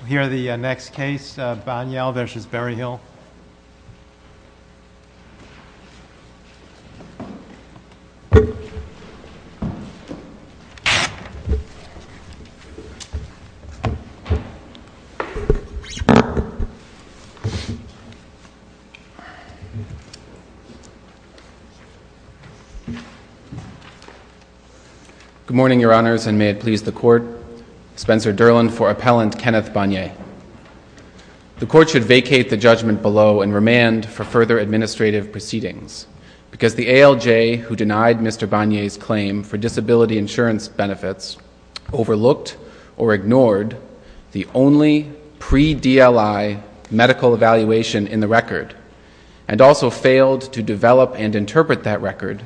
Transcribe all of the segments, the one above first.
We'll hear the next case, Banyai v. Berryhill. Good morning, Your Honors, and may it please the Court. Spencer Derlin for Appellant, Kenneth Banyai. The Court should vacate the judgment below and remand for further administrative proceedings because the ALJ, who denied Mr. Banyai's claim for disability insurance benefits, overlooked or ignored the only pre-DLI medical evaluation in the record and also failed to develop and interpret that record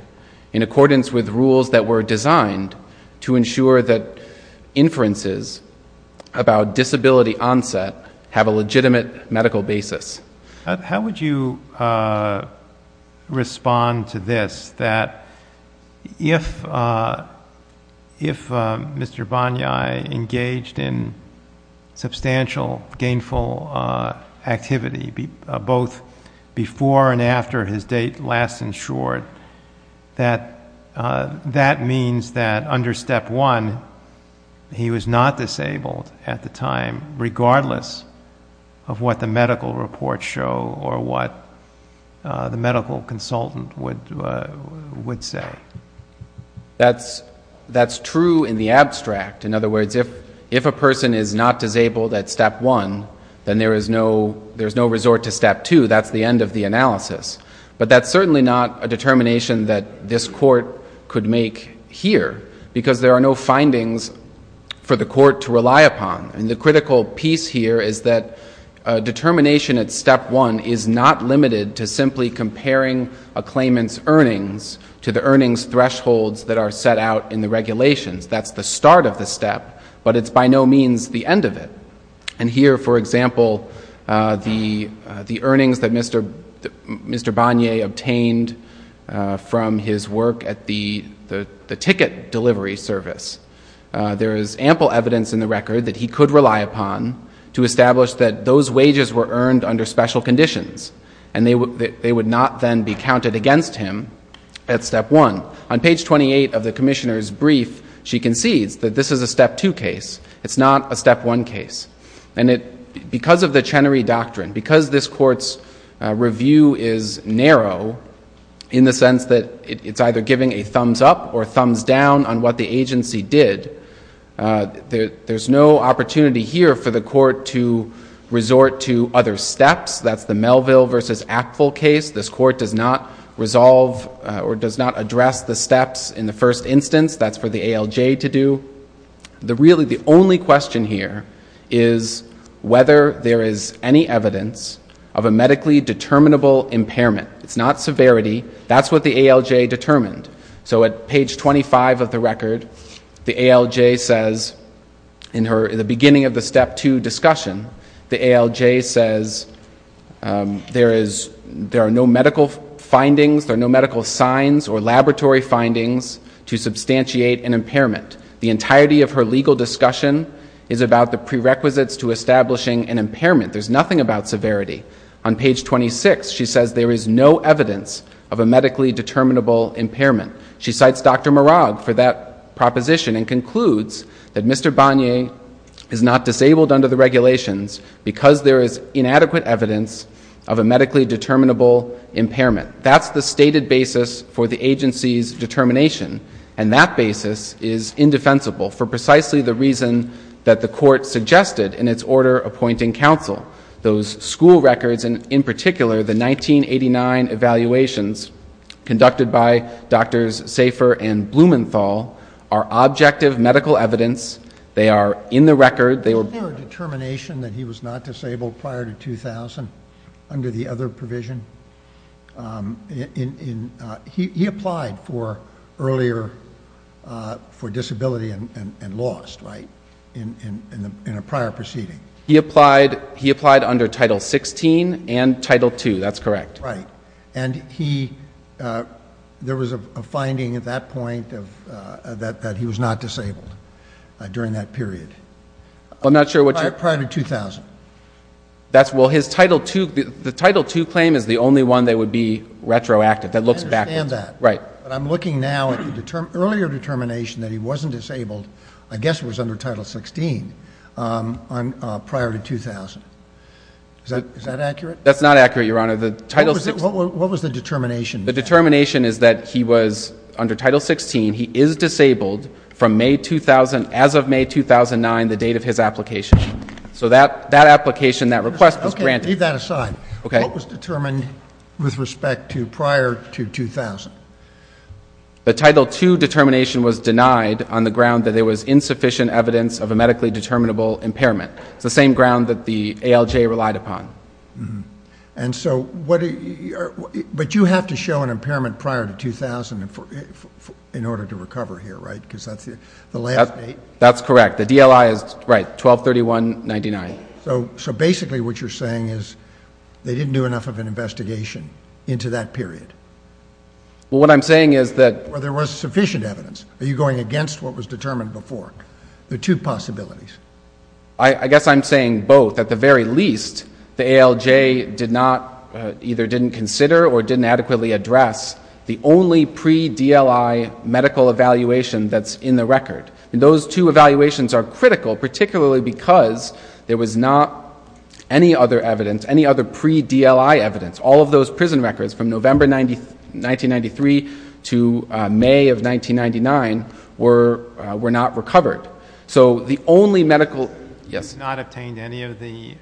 in accordance with rules that were designed to ensure that inferences about disability onset have a legitimate medical basis. How would you respond to this, that if Mr. Banyai engaged in substantial gainful activity, both before and after his date last insured, that that means that under Step 1 he was not disabled at the time, regardless of what the medical reports show or what the medical consultant would say? That's true in the abstract. In other words, if a person is not disabled at Step 1, then there is no resort to Step 2. That's the end of the analysis. But that's certainly not a determination that this Court could make here, because there The critical piece here is that determination at Step 1 is not limited to simply comparing a claimant's earnings to the earnings thresholds that are set out in the regulations. That's the start of the step, but it's by no means the end of it. And here, for example, the earnings that Mr. Banyai obtained from his work at the ticket delivery service, there is ample evidence in the record that he could rely upon to establish that those wages were earned under special conditions, and they would not then be counted against him at Step 1. On page 28 of the Commissioner's brief, she concedes that this is a Step 2 case. It's not a Step 1 case. And because of the Chenery Doctrine, because this Court's review is narrow in the sense that it's either giving a thumbs up or thumbs down on what the agency did, there's no opportunity here for the Court to resort to other steps. That's the Melville v. Actful case. This Court does not resolve or does not address the steps in the first instance. That's for the ALJ to do. Really the only question here is whether there is any evidence of a medically determinable impairment. It's not severity. That's what the ALJ determined. So at page 25 of the record, the ALJ says, in the beginning of the Step 2 discussion, the ALJ says there are no medical findings, there are no medical signs or laboratory findings to substantiate an impairment. The entirety of her legal discussion is about the prerequisites to establishing an impairment. There's nothing about severity. On page 26, she says there is no evidence of a medically determinable impairment. She cites Dr. Murag for that proposition and concludes that Mr. Bonnier is not disabled under the regulations because there is inadequate evidence of a medically determinable impairment. That's the stated basis for the agency's determination, and that basis is indefensible for precisely the reason that the Court suggested in its order appointing counsel. Those school records, and in particular, the 1989 evaluations conducted by Drs. Safer and Blumenthal are objective medical evidence. They are in the record. They were... Was there a determination that he was not disabled prior to 2000 under the other provision? He applied for earlier for disability and lost, right, in a prior proceeding. He applied under Title 16 and Title 2. That's correct. Right. And he... There was a finding at that point that he was not disabled during that period. I'm not sure what you're... Prior to 2000. That's... Well, his Title 2... The Title 2 claim is the only one that would be retroactive, that looks back... I understand that. Right. But I'm looking now at the earlier determination that he wasn't disabled, I guess it was under Title 16, prior to 2000. Is that accurate? That's not accurate, Your Honor. The Title 16... What was the determination? The determination is that he was, under Title 16, he is disabled from May 2000, as of May 2009, the date of his application. So that application, that request was granted. Okay. Leave that aside. Okay. What was determined with respect to prior to 2000? The Title 2 determination was denied on the ground that there was insufficient evidence of a medically determinable impairment. It's the same ground that the ALJ relied upon. And so what... But you have to show an impairment prior to 2000 in order to recover here, right? Because that's the last date. That's correct. The DLI is... Right. 12-31-99. So basically what you're saying is they didn't do enough of an investigation into that period? Well, what I'm saying is that... There was sufficient evidence. Are you going against what was determined before? There are two possibilities. I guess I'm saying both. At the very least, the ALJ did not, either didn't consider or didn't adequately address the only pre-DLI medical evaluation that's in the record. Those two evaluations are critical, particularly because there was not any other evidence, any other pre-DLI evidence. All of those prison records from November 1993 to May of 1999 were not recovered. So the only medical... Yes? Not obtained any of the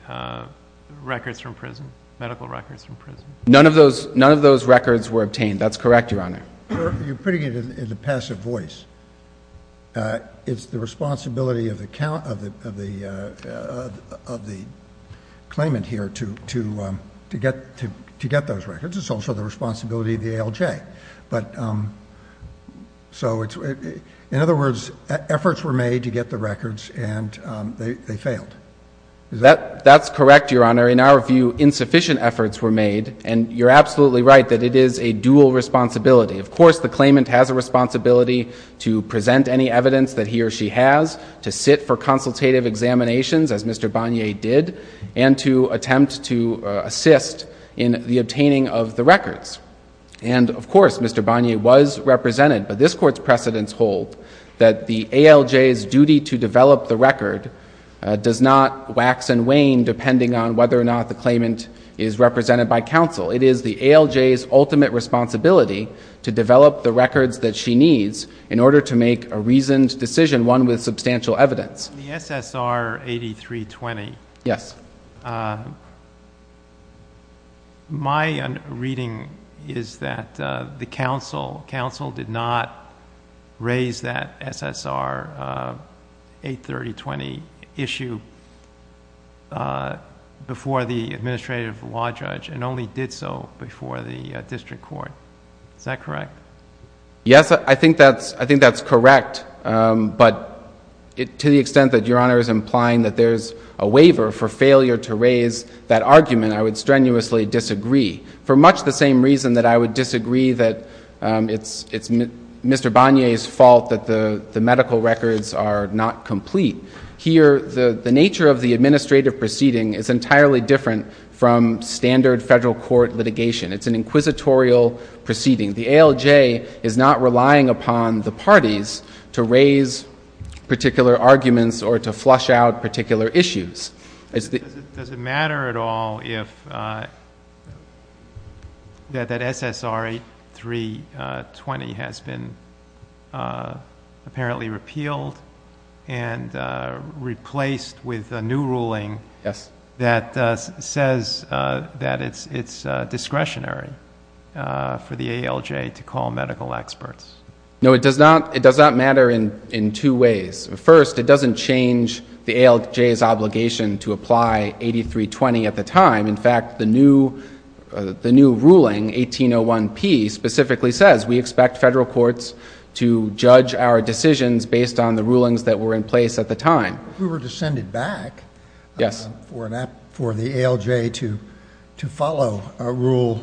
records from prison, medical records from prison? None of those records were obtained. That's correct, Your Honor. You're putting it in the passive voice. It's the responsibility of the claimant here to get those records. It's also the responsibility of the ALJ. So in other words, efforts were made to get the records, and they failed. That's correct, Your Honor. In our view, insufficient efforts were made, and you're absolutely right that it is a dual responsibility. Of course, the claimant has a responsibility to present any evidence that he or she has, to sit for consultative examinations, as Mr. Bonnier did, and to attempt to assist in the obtaining of the records. And of course, Mr. Bonnier was represented, but this Court's precedents hold that the ALJ's duty to develop the record does not wax and wane depending on whether or not the claimant is represented by counsel. It is the ALJ's ultimate responsibility to develop the records that she needs in order to make a reasoned decision, one with substantial evidence. In the SSR 8320, my reading is that the counsel did not raise that SSR 83020 issue before the administrative law judge, and only did so before the district court. Is that correct? Yes, I think that's correct, but to the extent that Your Honor is implying that there's a waiver for failure to raise that argument, I would strenuously disagree, for much the same reason that I would disagree that it's Mr. Bonnier's fault that the medical records are not complete. Here, the nature of the administrative proceeding is entirely different from standard federal court litigation. It's an inquisitorial proceeding. The ALJ is not relying upon the parties to raise particular arguments or to flush out particular issues. Does it matter at all if that SSR 8320 has been apparently repealed and replaced with a new ruling that says that it's discretionary for the ALJ to call medical experts? No, it does not matter in two ways. First, it doesn't change the ALJ's obligation to apply 8320 at the time. In fact, the new ruling, 1801P, specifically says we expect federal courts to judge our decisions based on the rulings that were in place at the time. If we were to send it back for the ALJ to follow a rule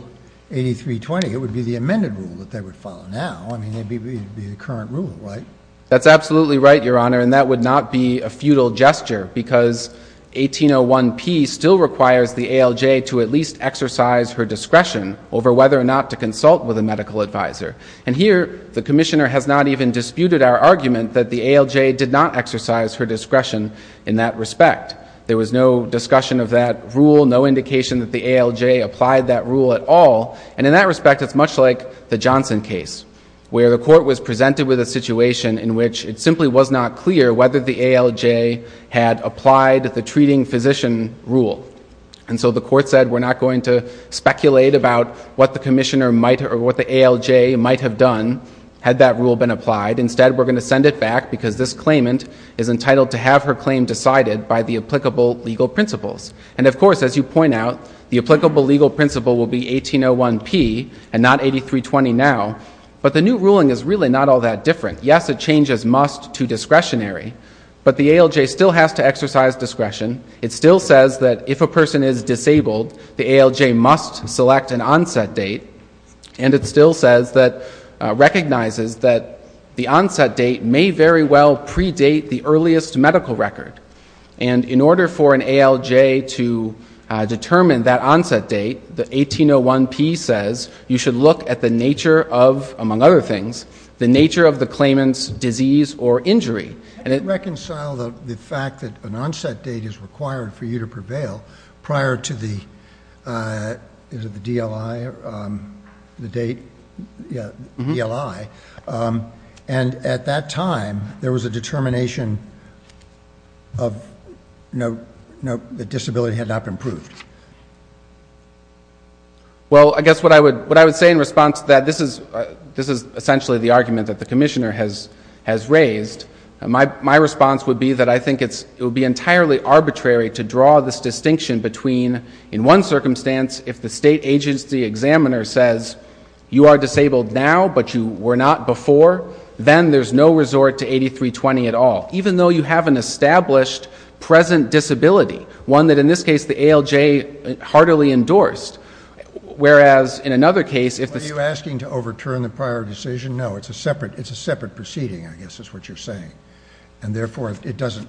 8320, it would be the amended rule that they would follow now. I mean, it would be the current rule, right? That's absolutely right, Your Honor, and that would not be a futile gesture because 1801P still requires the ALJ to at least exercise her discretion over whether or not to consult with a medical advisor. And here, the commissioner has not even disputed our argument that the ALJ did not exercise her discretion in that respect. There was no discussion of that rule, no indication that the ALJ applied that rule at all. And in that respect, it's much like the Johnson case, where the court was presented with a decision in which it simply was not clear whether the ALJ had applied the treating physician rule. And so the court said, we're not going to speculate about what the commissioner might or what the ALJ might have done had that rule been applied. Instead, we're going to send it back because this claimant is entitled to have her claim decided by the applicable legal principles. And of course, as you point out, the applicable legal principle will be 1801P and not 8320 now. But the new ruling is really not all that different. Yes, it changes must to discretionary, but the ALJ still has to exercise discretion. It still says that if a person is disabled, the ALJ must select an onset date. And it still says that, recognizes that the onset date may very well predate the earliest medical record. And in order for an ALJ to determine that onset date, the 1801P says you should look at the nature of, among other things, the nature of the claimant's disease or injury. And it reconciled the fact that an onset date is required for you to prevail prior to the DLI, the date, DLI. And at that time, there was a determination of the disability had not been proved. Well, I guess what I would say in response to that, this is essentially the argument that the commissioner has raised. My response would be that I think it would be entirely arbitrary to draw this distinction between in one circumstance, if the state agency examiner says you are disabled now, but you were not before, then there's no resort to 8320 at all. Even though you have an established present disability. One that in this case, the ALJ heartily endorsed. Whereas in another case, if the state... Are you asking to overturn the prior decision? No, it's a separate, it's a separate proceeding, I guess is what you're saying. And therefore, it doesn't,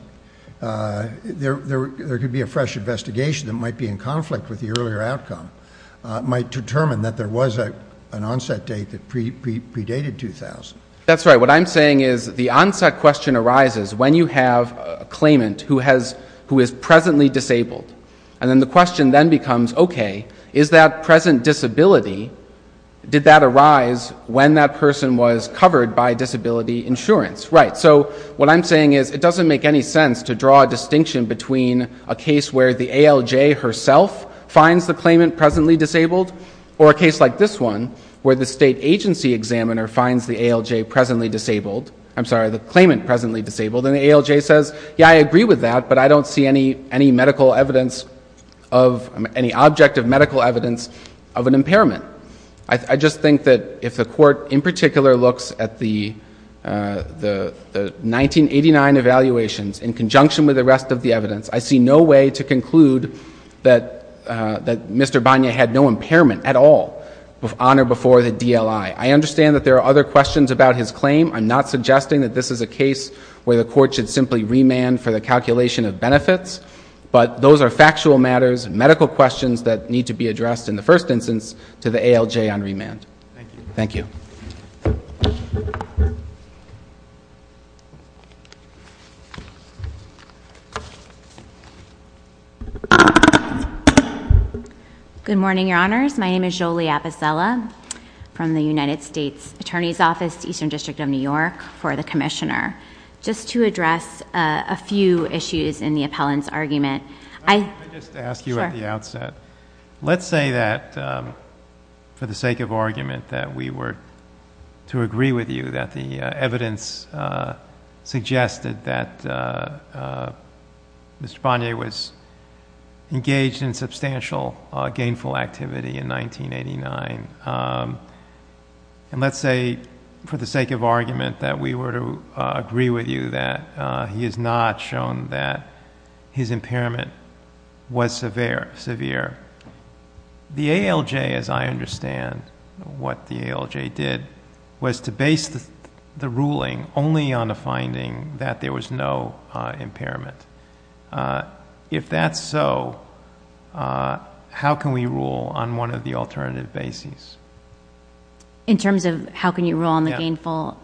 there could be a fresh investigation that might be in conflict with the earlier outcome, might determine that there was an onset date that predated 2000. That's right. So what I'm saying is the onset question arises when you have a claimant who has, who is presently disabled. And then the question then becomes, okay, is that present disability, did that arise when that person was covered by disability insurance? Right. So what I'm saying is it doesn't make any sense to draw a distinction between a case where the ALJ herself finds the claimant presently disabled, or a case like this one, where the state agency examiner finds the ALJ presently disabled, I'm sorry, the claimant presently disabled. And the ALJ says, yeah, I agree with that, but I don't see any medical evidence of any object of medical evidence of an impairment. I just think that if the court in particular looks at the 1989 evaluations in conjunction with the rest of the evidence, I see no way to conclude that Mr. Banya had no impairment at all on or before the DLI. I understand that there are other questions about his claim. I'm not suggesting that this is a case where the court should simply remand for the calculation of benefits, but those are factual matters, medical questions that need to be addressed in the first instance to the ALJ on remand. Thank you. Good morning, Your Honors. My name is Jolie Apicella from the United States Attorney's Office, Eastern District of New York, for the Commissioner. Just to address a few issues in the appellant's argument, I... Let me just ask you at the outset. Let's say that, for the sake of argument, that we were to agree with you that the evidence suggested that Mr. Banya was engaged in substantial gainful activity in 1989, and let's say for the sake of argument that we were to agree with you that he is not shown that his impairment was severe. The ALJ, as I understand what the ALJ did, was to base the ruling only on the finding that there was no impairment. If that's so, how can we rule on one of the alternative bases? In terms of how can you rule on the gainful?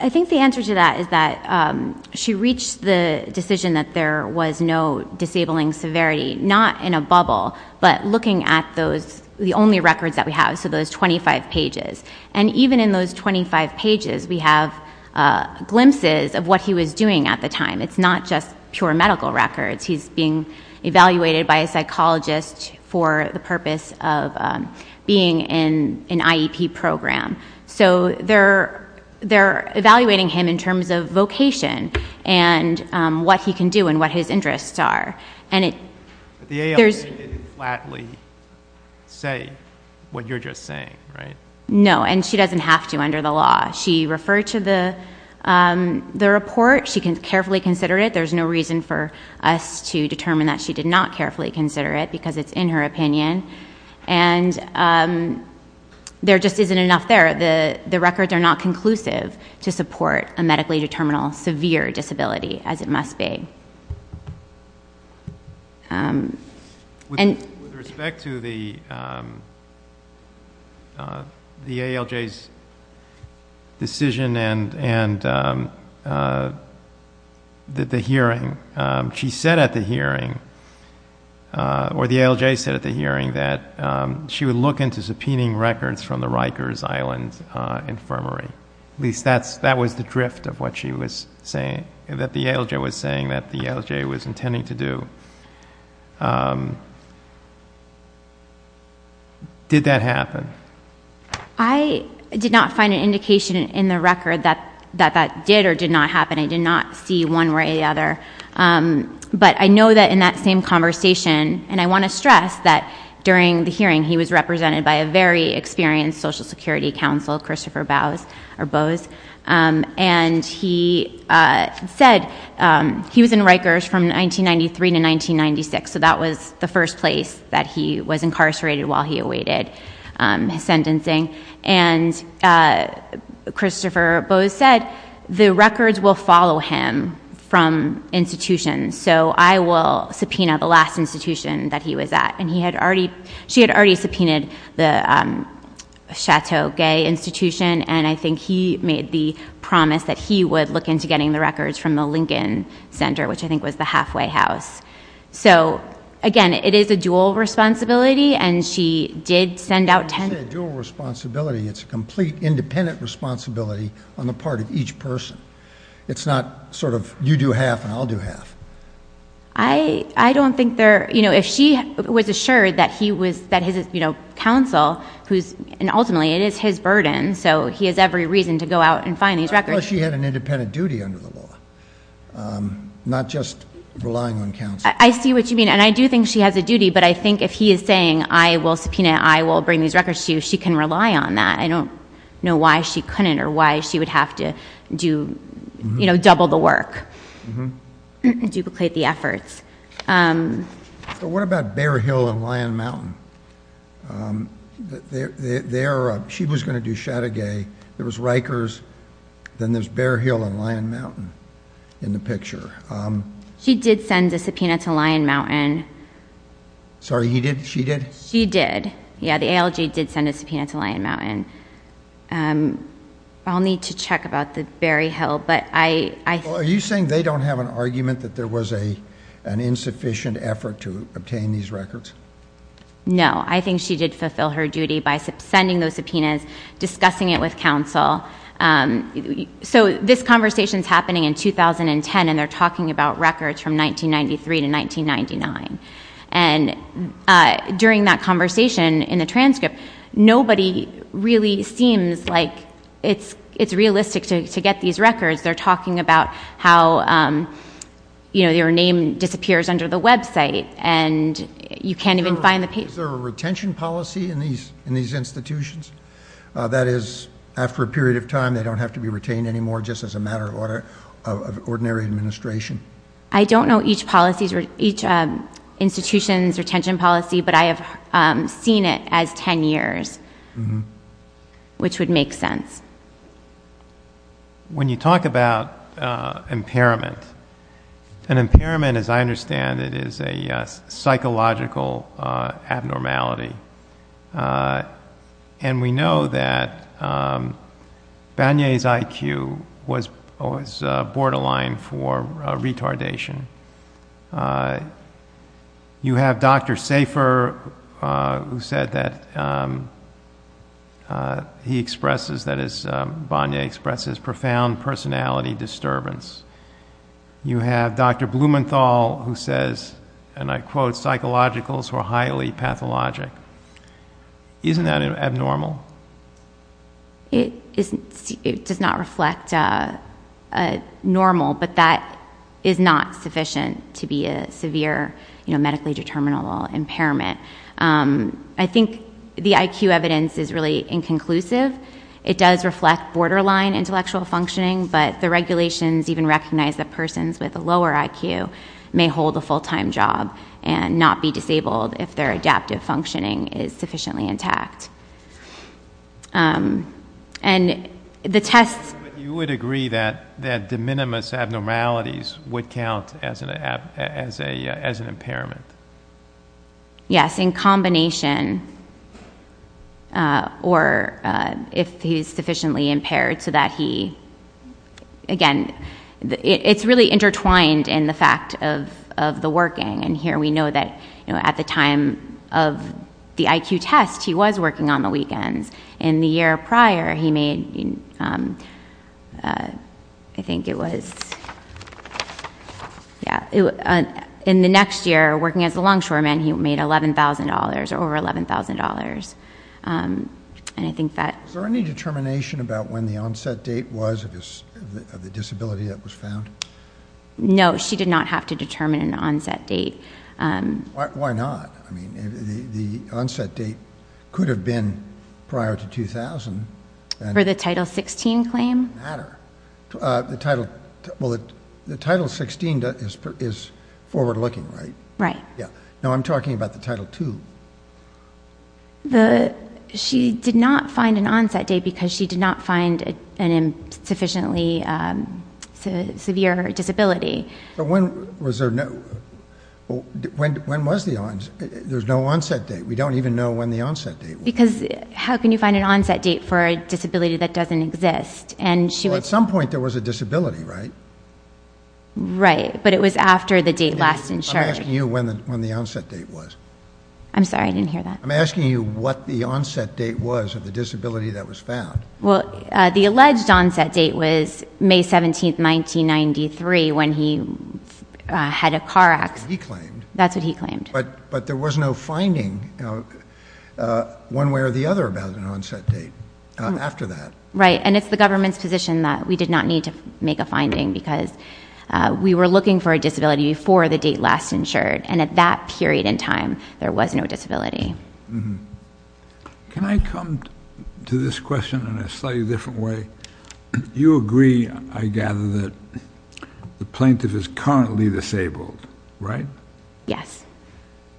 I think the answer to that is that she reached the decision that there was no disabling severity, not in a bubble, but looking at the only records that we have, so those 25 pages. Even in those 25 pages, we have glimpses of what he was doing at the time. It's not just pure medical records. He's being evaluated by a psychologist for the purpose of being in an IEP program. They're evaluating him in terms of vocation, and what he can do, and what his interests are. The ALJ didn't flatly say what you're just saying, right? No, and she doesn't have to under the law. She referred to the report. She carefully considered it. There's no reason for us to determine that she did not carefully consider it, because it's in her opinion. There just isn't enough there. The records are not conclusive to support a medically determinable severe disability, as it must be. With respect to the ALJ's decision, and the hearing, she said at the hearing, or the ALJ said at the hearing, that she would look into subpoenaing records from the Rikers Island Infirmary. At least that was the drift of what the ALJ was saying that the ALJ was intending to do. Did that happen? I did not find an indication in the record that that did or did not happen. I did not see one way or the other. I know that in that same conversation, and I want to stress that during the hearing, he was represented by a very experienced Social Security Counsel, Christopher Bowes. He said he was in Rikers from 1993 to 1996. That was the first place that he was incarcerated while he awaited his sentencing. Christopher Bowes said the records will follow him from institutions, so I will subpoena the last institution that he was at. She had already subpoenaed the Chateau Gay Institution, and I think he made the promise that he would look into getting the records from the Lincoln Center, which I think was the halfway house. Again, it is a dual responsibility. It is a dual responsibility. It is a complete independent responsibility on the part of each person. It is not sort of you do half and I will do half. I do not think there... If she was assured that his counsel, and ultimately it is his burden, so he has every reason to go out and find these records... Unless she had an independent duty under the law, not just relying on counsel. I see what you mean, and I do think she has a duty, but I think if he is saying, I will subpoena, I will bring these records to you, she can rely on that. I do not know why she could not or why she would have to double the work, duplicate the efforts. What about Bear Hill and Lion Mountain? She was going to do Chateau Gay. There was Rikers. Then there is Bear Hill and Lion Mountain in the picture. She did send a subpoena to Lion Mountain. Sorry, she did? She did. The ALG did send a subpoena to Lion Mountain. I will need to check about the Bear Hill, but I... Are you saying they do not have an argument that there was an insufficient effort to obtain these records? No. I think she did fulfill her duty by sending those subpoenas, discussing it with counsel. This conversation is happening in 2010, and they are talking about records from 1993 to 1999. During that conversation in the transcript, nobody really seems like it is realistic to get these records. They are talking about how your name disappears under the website, and you cannot even find the... Is there a retention policy in these institutions? That is, after a period of time, they do not have to be retained anymore just as a matter of ordinary administration? I do not know each institution's retention policy, but I have seen it as 10 years, which would make sense. When you talk about impairment, an impairment, as I understand it, is a psychological abnormality. We know that Banier's IQ was borderline for retardation. You have Dr. Safer who said that he expresses, that is, Banier expresses, profound personality disturbance. You have Dr. Blumenthal who says, and I quote, psychologicals who are highly pathologic. Isn't that abnormal? It does not reflect normal, but that is not sufficient to be a severe medically determinable impairment. I think the IQ evidence is really inconclusive. It does reflect borderline intellectual functioning, but the regulations even recognize that persons with a lower IQ may hold a full-time job and not be disabled if their adaptive functioning is sufficiently intact. But you would agree that de minimis abnormalities would count as an impairment? Yes, in combination, or if he is sufficiently impaired so that he, again, it's really intertwined in the fact of the working. Here we know that at the time of the IQ test, he was working on the weekends. In the year prior, he made, I think it was, in the next year, working as a longshoreman, he made $11,000, or over $11,000. Is there any determination about when the onset date was of the disability that was found? No, she did not have to determine an onset date. Why not? The onset date could have been prior to 2000. For the Title 16 claim? It doesn't matter. The Title 16 is forward-looking, right? Right. No, I'm talking about the Title 2. She did not find an onset date because she did not find a sufficiently severe disability. But when was there no... When was the onset? There's no onset date. We don't even know when the onset date was. Because how can you find an onset date for a disability that doesn't exist? At some point, there was a disability, right? Right, but it was after the date last insured. I'm asking you when the onset date was. I'm sorry, I didn't hear that. I'm asking you what the onset date was of the disability that was found. Well, the alleged onset date was May 17, 1993, when he had a car accident. That's what he claimed. That's what he claimed. But there was no finding, one way or the other, about an onset date after that. Right, and it's the government's position that we did not need to make a finding because we were looking for a disability before the date last insured. And at that period in time, there was no disability. Can I come to this question in a slightly different way? You agree, I gather, that the plaintiff is currently disabled, right? Yes.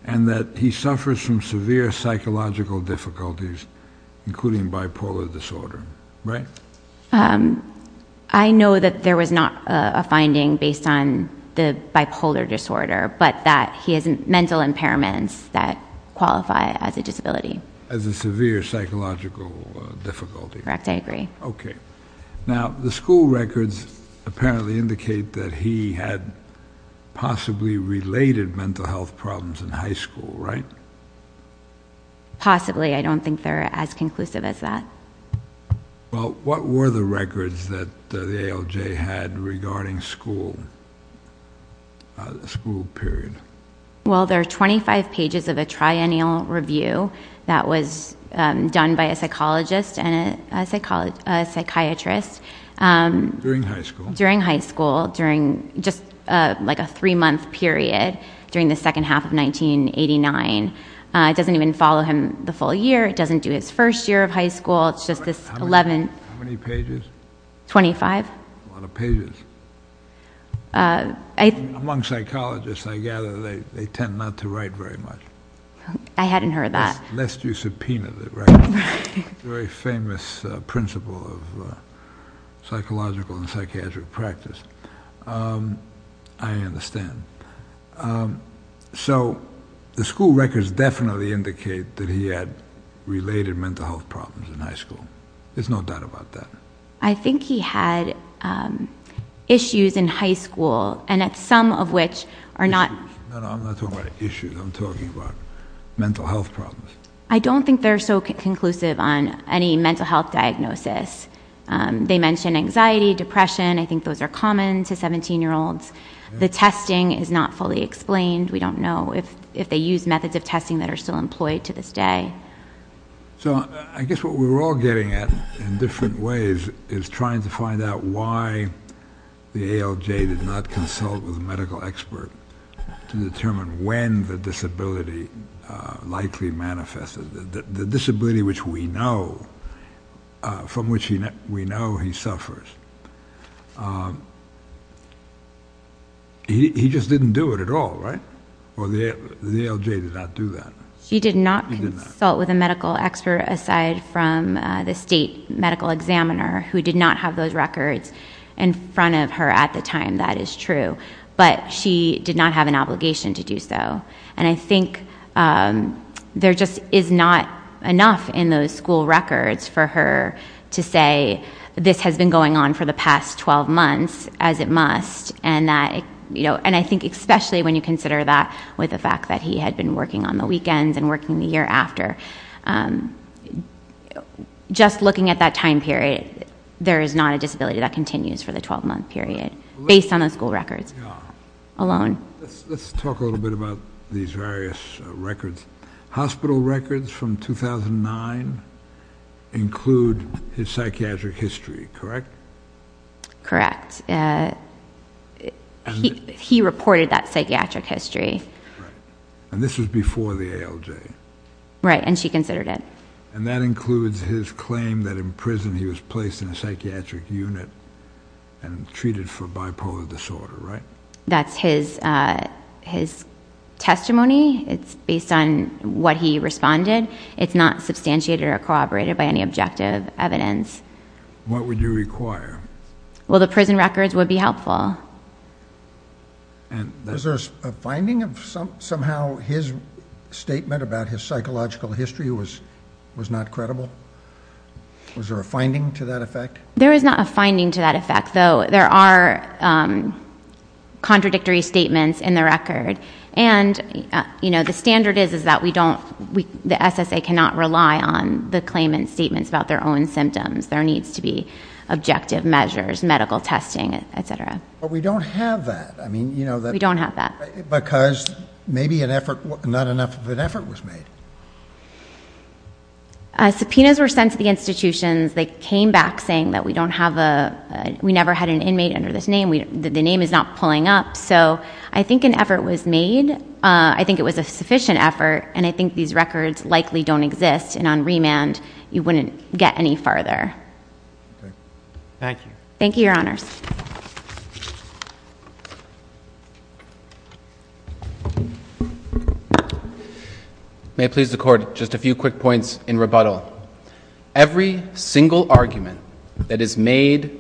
And that he suffers from severe psychological difficulties, including bipolar disorder, right? I know that there was not a finding based on the bipolar disorder, but that he has mental impairments that qualify as a disability. As a severe psychological difficulty. Correct, I agree. Okay. Now, the school records apparently indicate that he had possibly related mental health problems in high school, right? Possibly. I don't think they're as conclusive as that. Well, what were the records that the ALJ had regarding school period? Well, there are 25 pages of a triennial review that was done by a psychologist and a psychiatrist. During high school. During high school, just like a three-month period during the second half of 1989. It doesn't even follow him the full year, it doesn't do his first year of high school, it's just this 11... How many pages? 25. A lot of pages. Among psychologists, I gather, they tend not to write very much. I hadn't heard that. Lest you subpoena the records. Very famous principle of psychological and psychiatric practice. I understand. So, the school records definitely indicate that he had related mental health problems in high school. There's no doubt about that. I think he had issues in high school, and some of which are not... I'm not talking about issues, I'm talking about mental health problems. I don't think they're so conclusive on any mental health diagnosis. They mention anxiety, depression, I think those are common to 17-year-olds. The testing is not fully explained. We don't know if they use methods of testing that are still employed to this day. So, I guess what we're all getting at, in different ways, is trying to find out why the ALJ did not consult with a medical expert to determine when the disability likely manifested. The disability which we know, from which we know he suffers. He just didn't do it at all, right? The ALJ did not do that. She did not consult with a medical expert, aside from the state medical examiner, who did not have those records in front of her at the time. That is true. But she did not have an obligation to do so. And I think there just is not enough in those school records for her to say, this has been going on for the past 12 months, as it must. And I think especially when you consider that with the fact that he had been working on the weekends and working the year after. Just looking at that time period, there is not a disability that continues for the 12-month period, based on those school records alone. Let's talk a little bit about these various records. Hospital records from 2009 include his psychiatric history, correct? Correct. He reported that psychiatric history. And this was before the ALJ. Right, and she considered it. And that includes his claim that in prison he was placed in a psychiatric unit and treated for bipolar disorder, right? That's his testimony. It's based on what he responded. It's not substantiated or corroborated by any objective evidence. What would you require? Well, the prison records would be helpful. Was there a finding of somehow his statement about his psychological history was not credible? Was there a finding to that effect? There is not a finding to that effect, though there are contradictory statements in the record. And the standard is that the SSA cannot rely on the claimant's statements about their own symptoms. There needs to be objective measures, medical testing, et cetera. But we don't have that. We don't have that. Because maybe not enough of an effort was made. Subpoenas were sent to the institutions. They came back saying that we never had an inmate under this name, the name is not pulling up. So I think an effort was made. I think it was a sufficient effort, and I think these records likely don't exist, and on remand you wouldn't get any farther. Thank you. Thank you, Your Honors. May it please the Court, just a few quick points in rebuttal. Every single argument that is made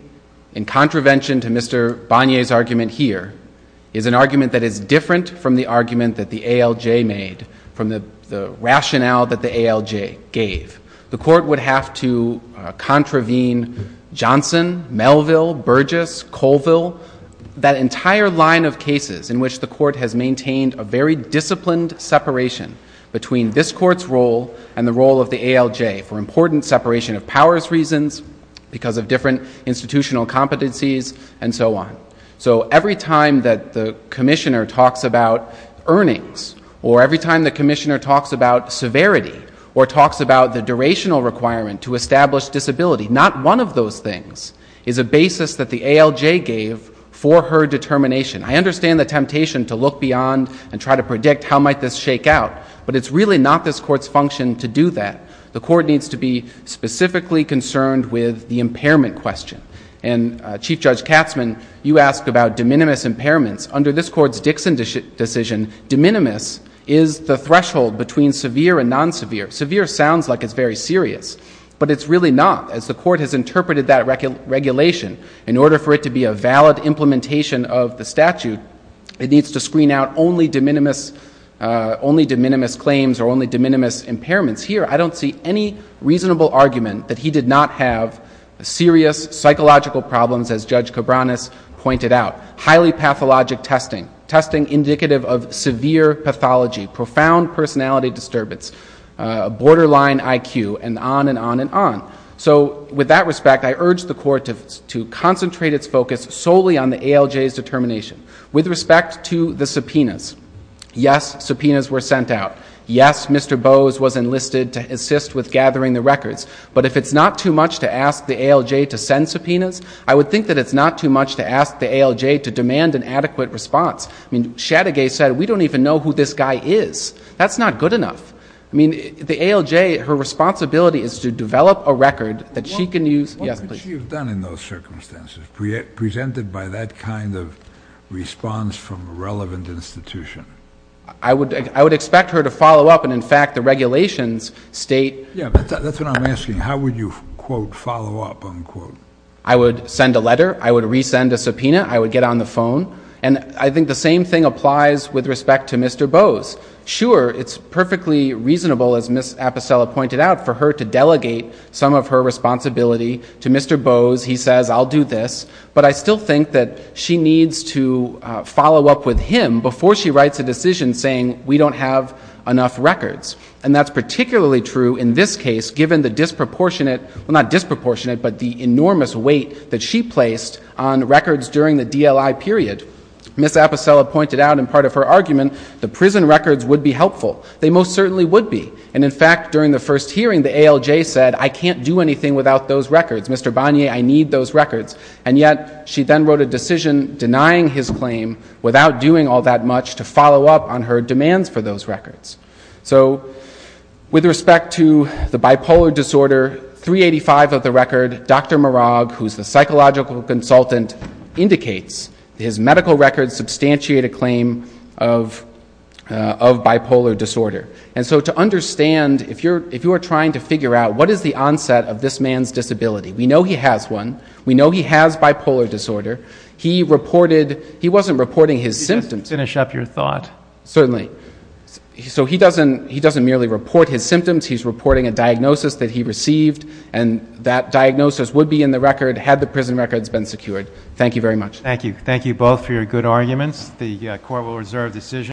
in contravention to Mr. Bonnier's argument here is an argument that is different from the argument that the ALJ made, from the rationale that the ALJ gave. The Court would have to contravene Johnson, Melville, Burgess, Colville, that entire line of cases in which the Court has maintained a very disciplined separation between this Court's role and the role of the ALJ for important separation of powers reasons, because of different institutional competencies, and so on. So every time that the Commissioner talks about earnings or every time the Commissioner talks about severity or talks about the durational requirement to establish disability, not one of those things is a basis that the ALJ gave for her determination. I understand the temptation to look beyond and try to predict how might this shake out, but it's really not this Court's function to do that. The Court needs to be specifically concerned with the impairment question, and Chief Judge Katzmann, you asked about de minimis impairments. Under this Court's Dixon decision, de minimis is the threshold between severe and non-severe. Severe sounds like it's very serious, but it's really not, as the Court has interpreted that regulation. In order for it to be a valid implementation of the statute, it needs to screen out only de minimis claims or only de minimis impairments. Here, I don't see any reasonable argument that he did not have serious psychological problems, as Judge Cabranes pointed out. Highly pathologic testing, testing indicative of severe pathology, profound personality disturbance, borderline IQ, and on and on and on. So with that respect, I urge the Court to concentrate its focus solely on the ALJ's determination. With respect to the subpoenas, yes, subpoenas were sent out. Yes, Mr. Bowes was enlisted to assist with gathering the records. But if it's not too much to ask the ALJ to send subpoenas, I would think that it's not too much to ask the ALJ to demand an adequate response. I mean, Shadegay said, we don't even know who this guy is. That's not good enough. I mean, the ALJ, her responsibility is to develop a record that she can use. Yes, please. What would she have done in those circumstances, presented by that kind of response from a relevant institution? I would expect her to follow up, and, in fact, the regulations state. Yeah, that's what I'm asking. How would you, quote, follow up, unquote? I would send a letter. I would resend a subpoena. I would get on the phone. And I think the same thing applies with respect to Mr. Bowes. Sure, it's perfectly reasonable, as Ms. Aposella pointed out, for her to delegate some of her responsibility to Mr. Bowes. He says, I'll do this. But I still think that she needs to follow up with him before she writes a decision saying, we don't have enough records. And that's particularly true in this case, given the disproportionate, well, not disproportionate, but the enormous weight that she placed on records during the DLI period. Ms. Aposella pointed out, in part of her argument, the prison records would be helpful. They most certainly would be. And, in fact, during the first hearing, the ALJ said, I can't do anything without those records. Mr. Bonnier, I need those records. And yet she then wrote a decision denying his claim without doing all that much to follow up on her demands for those records. So, with respect to the bipolar disorder, 385 of the record, Dr. Marag, who's the psychological consultant, indicates his medical records substantiate a claim of bipolar disorder. And so to understand, if you are trying to figure out, what is the onset of this man's disability? We know he has one. We know he has bipolar disorder. He reported, he wasn't reporting his symptoms. Finish up your thought. Certainly. So he doesn't merely report his symptoms. He's reporting a diagnosis that he received, and that diagnosis would be in the record had the prison records been secured. Thank you very much. Thank you. Thank you both for your good arguments. The Court will reserve decision.